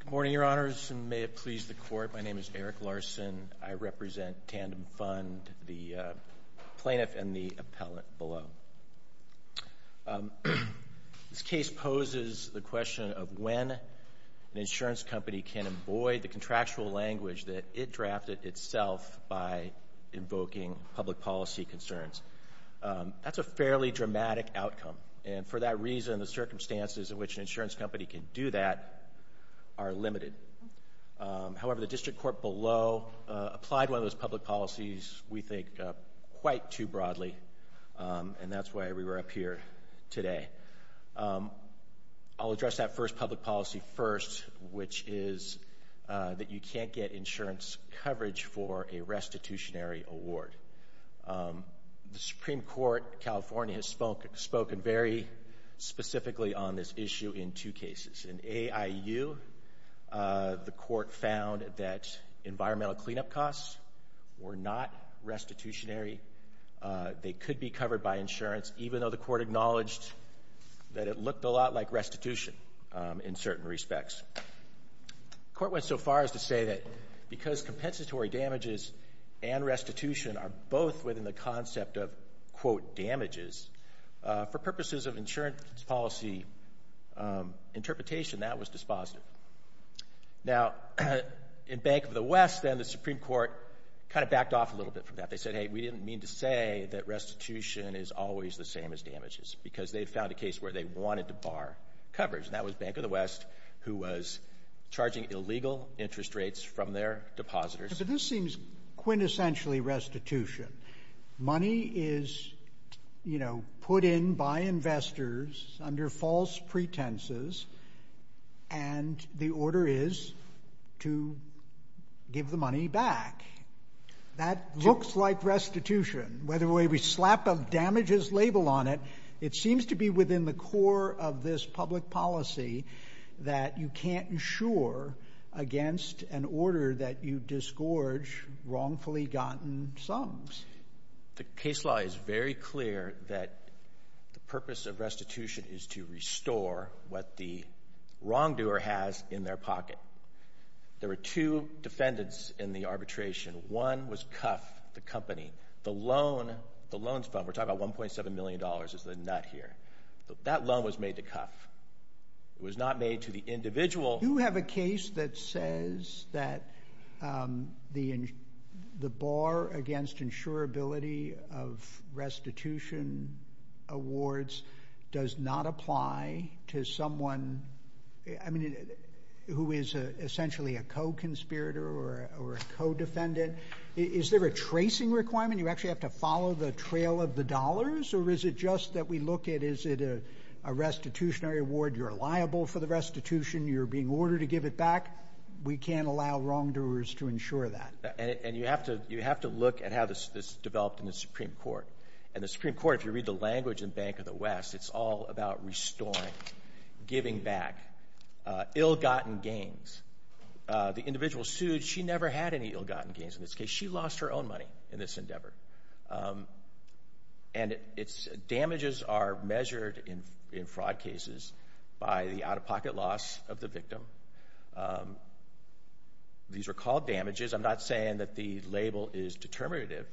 Good morning, Your Honors, and may it please the Court. My name is Eric Larson. I represent Tandem Fund, the plaintiff and the appellant below. This case poses the question of when an insurance company can avoid the contractual language that it drafted itself by invoking public policy concerns. That's a fairly dramatic outcome, and for that reason, the circumstances in which an insurance company can do that are limited. However, the District Court below applied one of those public policies, we think, quite too broadly, and that's why we were up here today. I'll address that first public policy first, which is that you can't get insurance coverage for a restitutionary award. The Supreme Court, California, has spoken very specifically on this issue in two cases. In A.I.U., the Court found that environmental cleanup costs were not restitutionary. They could be covered by insurance, even though the Court acknowledged that it looked a lot like restitution in certain respects. The Court went so far as to say that because compensatory damages and restitution are both within the purposes of insurance policy interpretation, that was dispositive. Now, in Bank of the West, then, the Supreme Court kind of backed off a little bit from that. They said, hey, we didn't mean to say that restitution is always the same as damages, because they found a case where they wanted to bar coverage, and that was Bank of the West, who was charging illegal interest rates from their depositors. But this seems quintessentially restitution. Money is, you know, put in by investors under false pretenses, and the order is to give the money back. That looks like restitution. Whether we slap a damages label on it, it seems to be within the core of this public policy that you can't insure against an order that you disgorge wrongfully gotten sums. The case law is very clear that the purpose of restitution is to restore what the wrongdoer has in their pocket. There were two defendants in the arbitration. One was Cuff, the company. The loan, the loans fund, we're talking about $1.7 million is the nut here. That loan was made to Cuff. It was not made to the individual. You have a case that says that the bar against insurability of restitution awards does not apply to someone, I mean, who is essentially a co-conspirator or a co-defendant. Is there a tracing requirement? You actually have to follow the trail of the dollars, or is it just that we look at, is it a restitutionary award? You're liable for the restitution. You're being ordered to give it back. We can't allow wrongdoers to insure that. And you have to look at how this developed in the Supreme Court. And the Supreme Court, if you read the language in Bank of the West, it's all about restoring, giving back, ill-gotten gains. The individual sued. She never had any ill-gotten gains in this case. She lost her own money in this endeavor. And damages are measured in fraud cases by the out-of-pocket loss of the victim. These are called damages. I'm not saying that the label is determinative.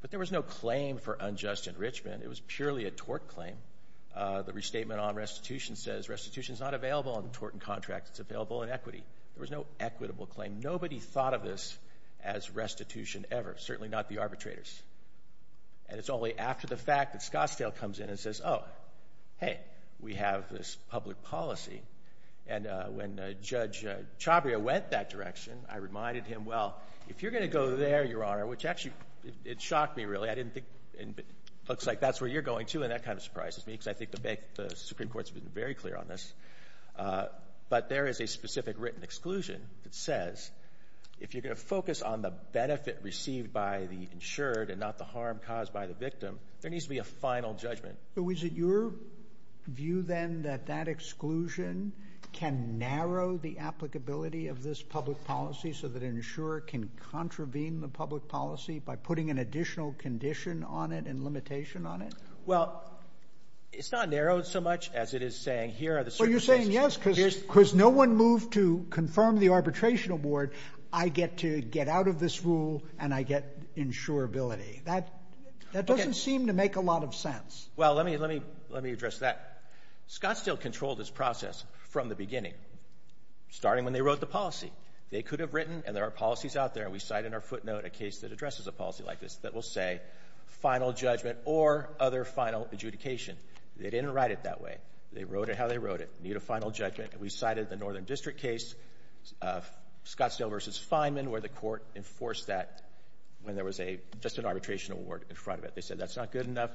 But there was no claim for unjust enrichment. It was purely a tort claim. The restatement on restitution says restitution is not available on tort and contract. It's available in equity. There was no equitable claim. Nobody thought of this as restitution ever, certainly not the arbitrators. And it's only after the fact that Scottsdale comes in and says, oh, hey, we have this public policy. And when Judge Chabria went that direction, I reminded him, well, if you're going to go there, Your Honor, which actually, it shocked me, really. I didn't think, it looks like that's where you're going, too. And that kind of surprises me, because I think the Supreme Court's been very clear on this. But there is a specific written exclusion that says, if you're going to focus on the benefit received by the insured and not the harm caused by the victim, there needs to be a final judgment. So is it your view, then, that that exclusion can narrow the applicability of this public policy so that an insurer can contravene the public policy by putting an additional condition on it and limitation on it? Well, it's not narrowed so much as it is saying, here are the circumstances. So you're saying, yes, because no one moved to confirm the arbitration award, I get to get out of this rule, and I get insurability. That doesn't seem to make a lot of sense. Well, let me address that. Scottsdale controlled this process from the beginning, starting when they wrote the policy. They could have written, and there are policies out there, and we cite in our footnote a case that addresses a policy like this that will say, final judgment or other final adjudication. They didn't write it that way. They wrote it how they wrote it. You need a final judgment. We cited the Northern District case, Scottsdale v. Feynman, where the court enforced that when there was just an arbitration award in front of it. They said, that's not good enough.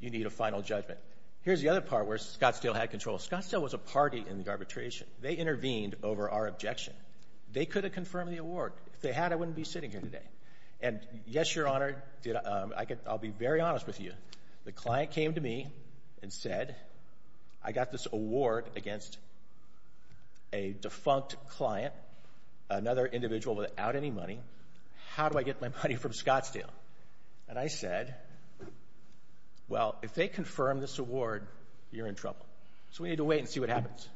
You need a final judgment. Here's the other part where Scottsdale had control. Scottsdale was a party in the arbitration. They intervened over our objection. They could have confirmed the award. If they had, I wouldn't be sitting here today. And yes, Your Honor, I'll be very honest with you. The client came to me and said, I got this award against a defunct client, another individual without any money. How do I get my money from Scottsdale? And I said, well, if they confirm this award, you're in trouble. So we need to wait and see what happens.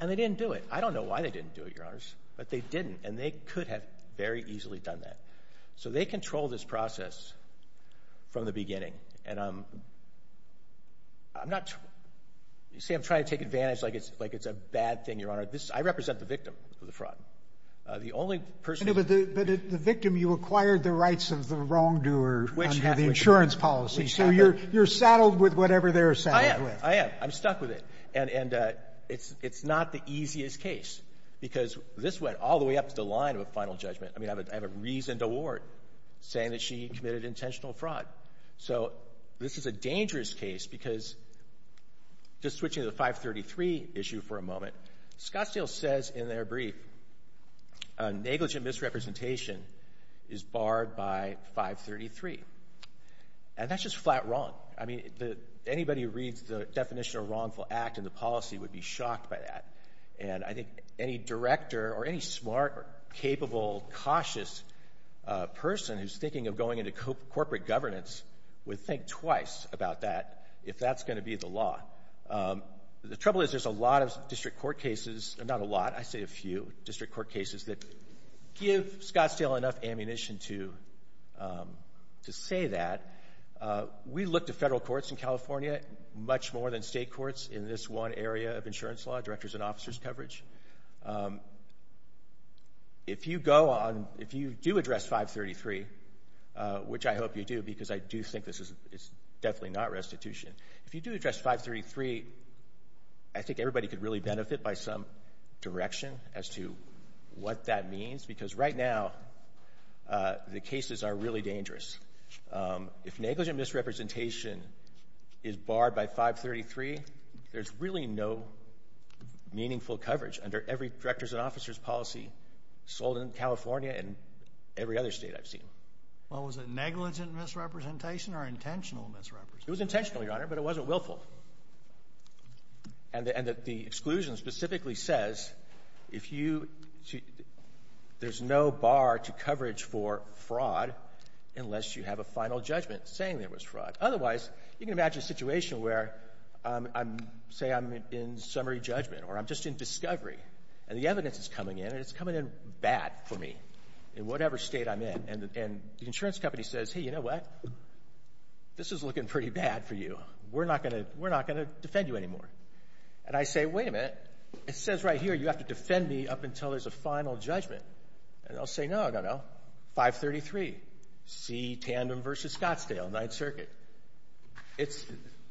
And they didn't do it. I don't know why they didn't do it, Your Honors, but they didn't. And they could have very easily done that. So they control this process from the beginning. And I'm not trying to take advantage like it's a bad thing, Your Honor. I represent the victim of the fraud. The only person who... But the victim, you acquired the rights of the wrongdoer under the insurance policy. So you're saddled with whatever they're saddled with. I am. I am. I'm stuck with it. And it's not the easiest case, because this went all the way up to the line of a final judgment. I mean, I have a reasoned award saying that she committed intentional fraud. So this is a dangerous case, because just switching to the 533 issue for a moment, Scottsdale says in their brief, negligent misrepresentation is barred by 533. And that's just flat wrong. I mean, anybody who reads the definition of a wrongful act in the policy would be shocked by that. And I think any director or any smart or capable, cautious person who's thinking of going into corporate governance would think twice about that, if that's going to be the law. The trouble is there's a lot of district court cases, not a lot, I'd say a few district court cases that give Scottsdale enough ammunition to say that. We look to federal courts in California, much more than state courts in this one area of insurance law, directors and officers coverage. If you go on, if you do address 533, which I hope you do, because I do think this is definitely not restitution, if you do address 533, I think everybody could really benefit by some direction as to what that means, because right now, the cases are really dangerous. If negligent misrepresentation is barred by 533, there's really no meaningful coverage under every directors and officers policy sold in California and every other State I've seen. Well, was it negligent misrepresentation or intentional misrepresentation? It was intentional, Your Honor, but it wasn't willful. And the exclusion specifically says if you, there's no bar to coverage for fraud unless you have a final judgment saying there was fraud. Otherwise, you can imagine a situation where I'm, say I'm in summary judgment or I'm just in discovery and the evidence is coming in and it's coming in bad for me in whatever State I'm in. And the insurance company says, hey, you know what? This is looking pretty bad for you. We're not going to defend you anymore. And I say, wait a minute. It says right here, you have to defend me up until there's a final judgment. And they'll say, no, no, no, 533, see tandem versus Scottsdale, Ninth Circuit. It's,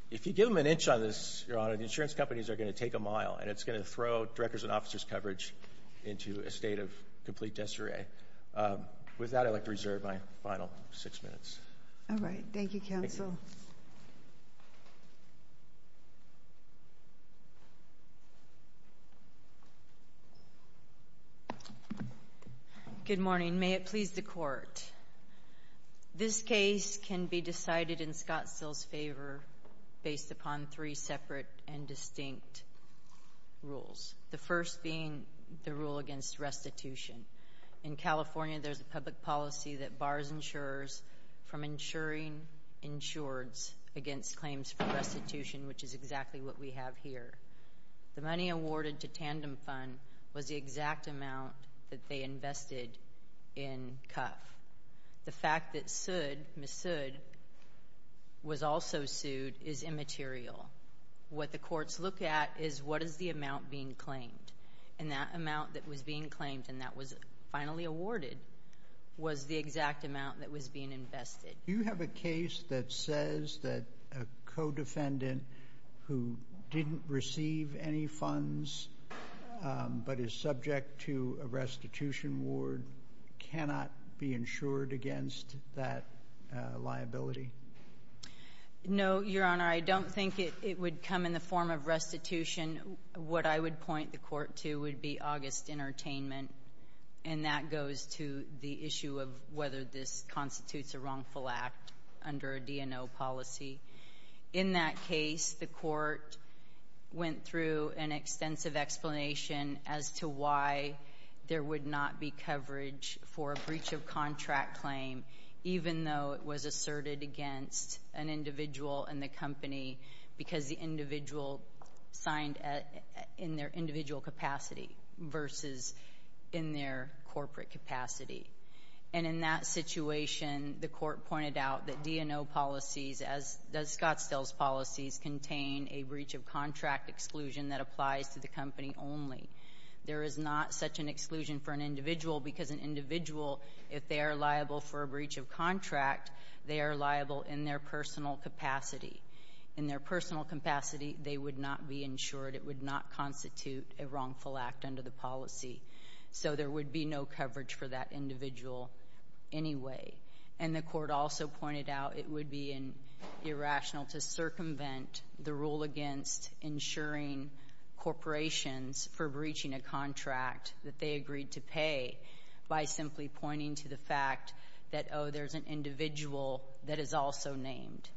if you give them an inch on this, Your Honor, the insurance companies are going to take a mile and it's going to throw directors and officers coverage into a state of complete deseret. With that, I'd like to reserve my final six minutes. All right. Thank you, counsel. Good morning. May it please the court. This case can be decided in Scottsdale's favor based upon three separate and distinct rules. The first being the rule against restitution. In California, there's a public policy that bars insurers from insuring insureds against claims for restitution, which is exactly what we have here. The money awarded to Tandem Fund was the exact amount that they invested in Cuff. The fact that Sood, Ms. Sood, was also sued is immaterial. What the courts look at is what is the amount being claimed. And that amount that was being claimed and that was finally awarded was the exact amount that was being invested. Do you have a case that says that a co-defendant who didn't receive any funds but is subject to a restitution ward cannot be insured against that liability? No, Your Honor. I don't think it would come in the form of restitution. What I would point the court to would be August Entertainment, and that goes to the issue of whether this constitutes a wrongful act under a DNO policy. In that case, the court went through an extensive explanation as to why there would not be coverage for a breach of contract claim even though it was asserted against an individual in the company because the individual signed in their individual capacity versus in their corporate capacity. And in that situation, the court pointed out that DNO policies, as does Scottsdale's policies, contain a breach of contract exclusion that applies to the company only. There is not such an exclusion for an individual because an individual, if they are liable for a breach of contract, they are liable in their personal capacity. In their personal capacity, they would not be insured. It would not constitute a wrongful act under the policy. So there would be no coverage for that individual anyway. And the court also pointed out it would be irrational to circumvent the rule against insuring corporations for breaching a contract that they agreed to pay by simply pointing to the fact that, oh, there's an individual that is also named.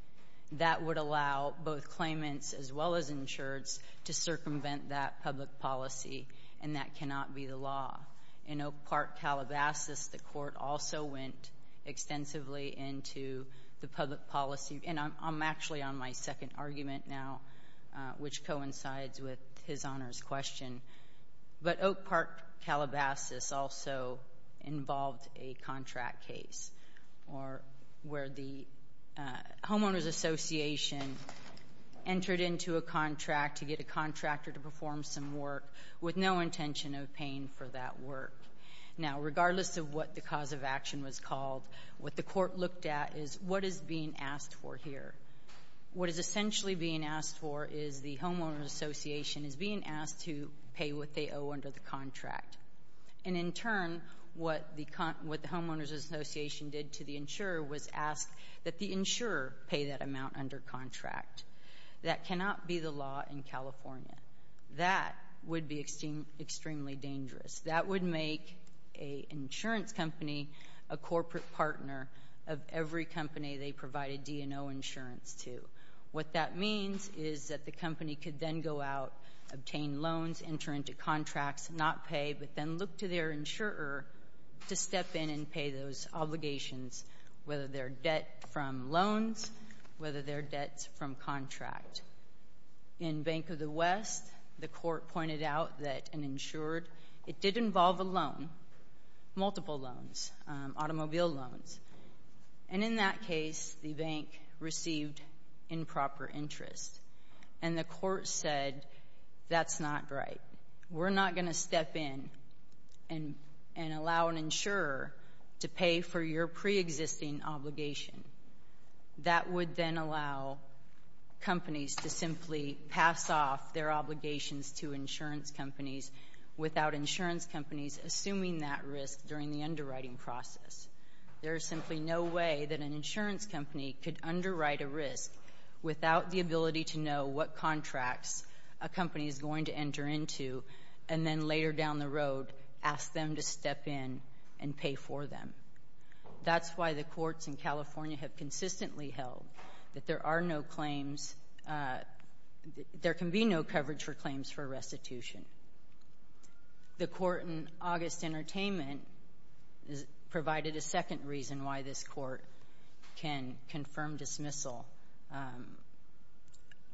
That would allow both claimants as well as insureds to circumvent that public policy, and that cannot be the law. In Oak Park, Calabasas, the court also went extensively into the public policy. And I'm actually on my second argument now, which coincides with His Honor's question. But Oak case, or where the homeowners association entered into a contract to get a contractor to perform some work with no intention of paying for that work. Now, regardless of what the cause of action was called, what the court looked at is what is being asked for here. What is essentially being asked for is the homeowners association is being asked to pay what they owe under the contract. And in turn, what the homeowners association did to the insurer was ask that the insurer pay that amount under contract. That cannot be the law in California. That would be extremely dangerous. That would make an insurance company a corporate partner of every company they provide a D&O insurance to. What that means is that the company could then go out, obtain loans, enter into contracts, not pay, but then look to their insurer to step in and pay those obligations, whether they're debt from loans, whether they're debts from contract. In Bank of the West, the court pointed out that an insured, it did involve a loan, multiple loans, automobile loans. And in that case, the bank received improper interest. And the court said, that's not right. We're not going to step in and allow an insurer to pay for your preexisting obligation. That would then allow companies to simply pass off their obligations to insurance companies without insurance companies assuming that risk during the underwriting process. There is simply no way that an insurance company could underwrite a risk without the ability to know what contracts a company is going to enter into, and then later down the road, ask them to step in and pay for them. That's why the courts in California have consistently held that there are no claims, there can be no coverage for claims for restitution. The court in August Entertainment provided a second reason why this court can confirm dismissal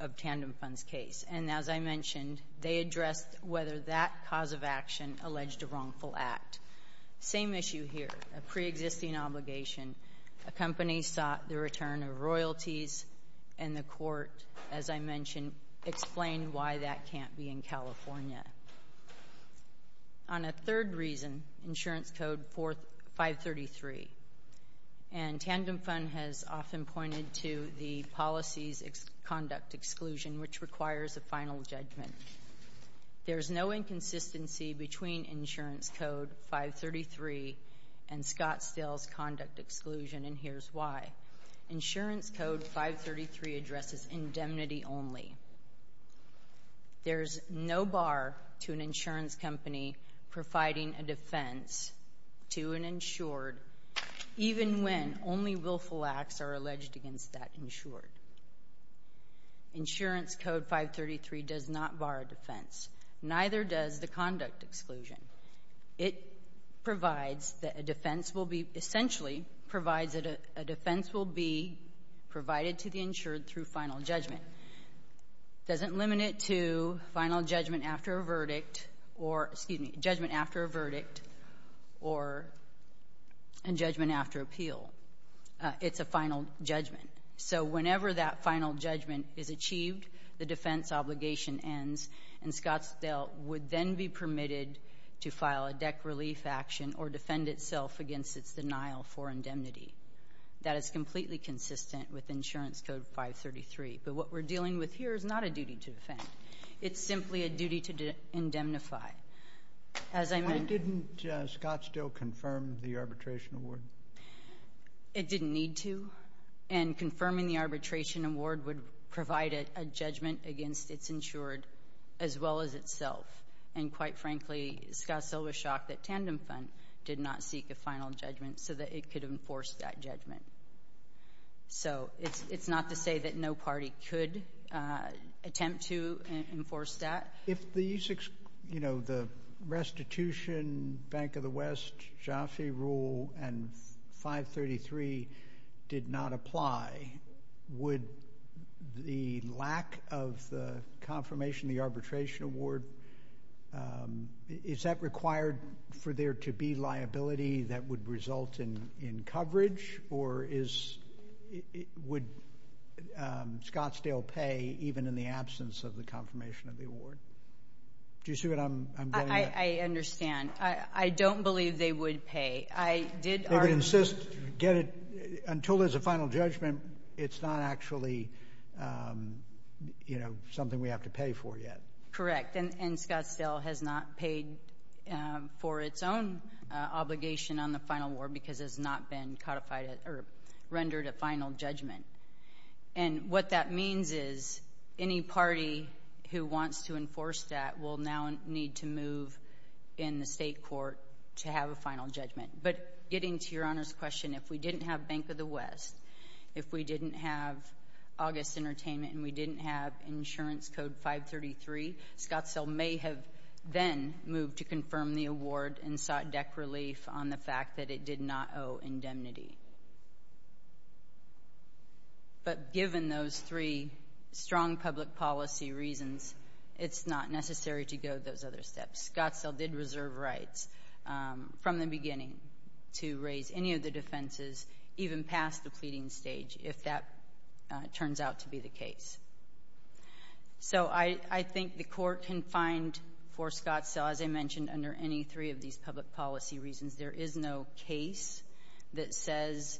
of tandem funds case. And as I mentioned, they addressed whether that cause of action alleged a wrongful act. Same issue here, a preexisting obligation, a company sought the return of royalties, and the court, as I mentioned, explained why that can't be in California. On a third reason, Insurance Code 533, the Tandem Fund has often pointed to the policy's conduct exclusion, which requires a final judgment. There's no inconsistency between Insurance Code 533 and Scottsdale's conduct exclusion, and here's why. Insurance Code 533 addresses indemnity only. There's no bar to an insurance company providing a defense to an insured, even when only willful acts are alleged against that insured. Insurance Code 533 does not bar a defense. Neither does the conduct exclusion. It provides that a defense will be, essentially, provides that a defense will be provided to the insured through final judgment. Doesn't limit it to final judgment after a verdict, or, excuse me, judgment after a verdict, or a judgment after appeal. It's a final judgment. So whenever that final judgment is achieved, the defense obligation ends, and Scottsdale would then be permitted to file a deck relief action or defend itself against its denial for indemnity. That is completely consistent with Insurance Code 533, but what we're dealing with here is not a duty to defend. It's simply a duty to indemnify. As I mentioned... Why didn't Scottsdale confirm the arbitration award? It didn't need to, and confirming the arbitration award would provide a judgment against its insured as well as itself, and quite frankly, Scottsdale was shocked that Tandem Fund did not seek a final judgment so that it could enforce that judgment. So it's not to say that no party could attempt to enforce that. If the restitution, Bank of the West, Jaffe rule, and 533 did not apply, would the lack of the confirmation of the arbitration award, is that required for there to be liability that would result in coverage, or would Scottsdale pay even in the absence of the confirmation of the award? Do you see what I'm getting at? I understand. I don't believe they would pay. They would insist, until there's a final judgment, it's not actually something we have to pay for yet. Correct, and Scottsdale has not paid for its own obligation on the final award because it has not been rendered a final judgment. And what that means is any party who wants to enforce that will now need to move in the state court to have a final judgment. But getting to Your Honor's question, if we didn't have Bank of the West, if we didn't have August Entertainment, and we didn't have Insurance Code 533, Scottsdale may have then moved to confirm the award and sought deck relief on the fact that it did not owe indemnity. But given those three strong public policy reasons, it's not necessary to go those other steps. Scottsdale did reserve rights from the beginning to raise any of the defenses even past the pleading stage, if that turns out to be the case. So I think the court can find for Scottsdale, as I mentioned, under any three of these public policy reasons, there is no case that says,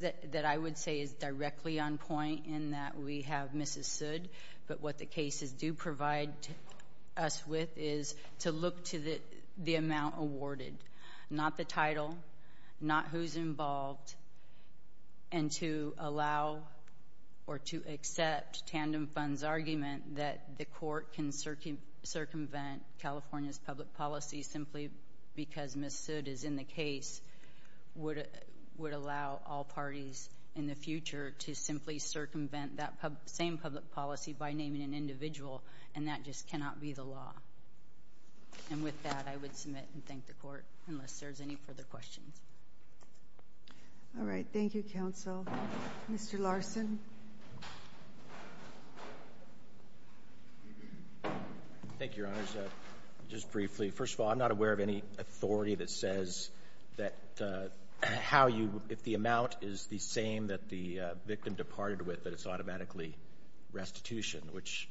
that I would say is directly on point in that we have Mrs. Sood. But what the cases do provide us with is to look to the amount awarded, not the title, not who's involved, and to allow or to accept Tandem Fund's argument that the court can circumvent California's public policy simply because Mrs. Sood is in the case would allow all parties in the future to simply circumvent that same public policy by naming an individual, and that just cannot be the law. And with that, I would submit and thank the court, unless there's any further questions. All right. Thank you, counsel. Mr. Larson. Thank you, Your Honors. Just briefly, first of all, I'm not aware of any authority that says that how you, if the amount is the same that the victim departed with, that it's automatically restitution, which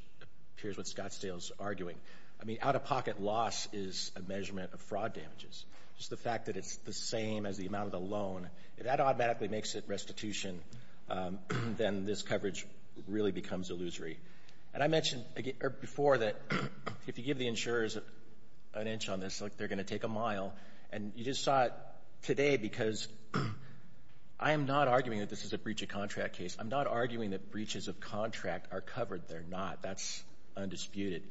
appears what Scottsdale's arguing. I mean, out-of-pocket loss is a measurement of fraud damages. Just the fact that it's the same as the amount of the loan, if that automatically makes it restitution, then this coverage really becomes illusory. And I mentioned before that if you give the insurers an inch on this, they're going to take a mile. And you just saw it today because I am not arguing that this is a breach of contract case. I'm not arguing that breaches of contract are covered. They're not. That's undisputed.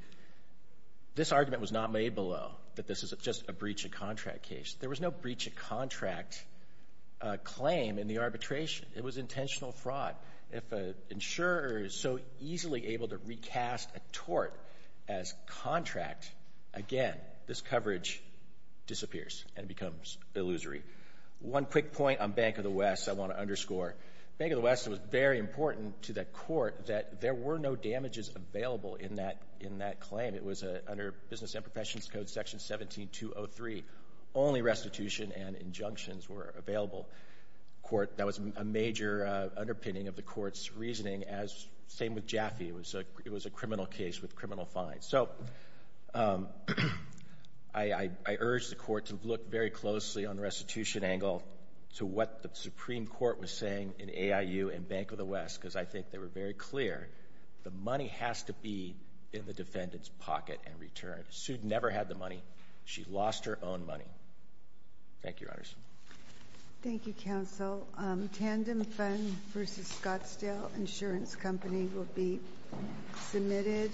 This argument was not made below, that this is just a breach of contract case. There was no breach of contract claim in the arbitration. It was intentional fraud. If an insurer is so easily able to recast a tort as contract, again, this coverage disappears and becomes illusory. One quick point on Bank of the West I want to underscore. Bank of the West was very important to the Court that there were no damages available in that claim. It was under Business and Professions Code, Section 17203, only restitution and injunctions were available. That was a major underpinning of the Court's reasoning, same with Jaffe. It was a criminal case with criminal fines. So I urge the Court to look very closely on restitution angle to what the Supreme Court was saying in AIU and Bank of the West because I think they were very clear the money has to be in the defendant's pocket and return. Sue never had the money. She lost her own money. Thank you, Your Honors. Thank you, Counsel. Tandem Fund v. Scottsdale Insurance Company will be submitted.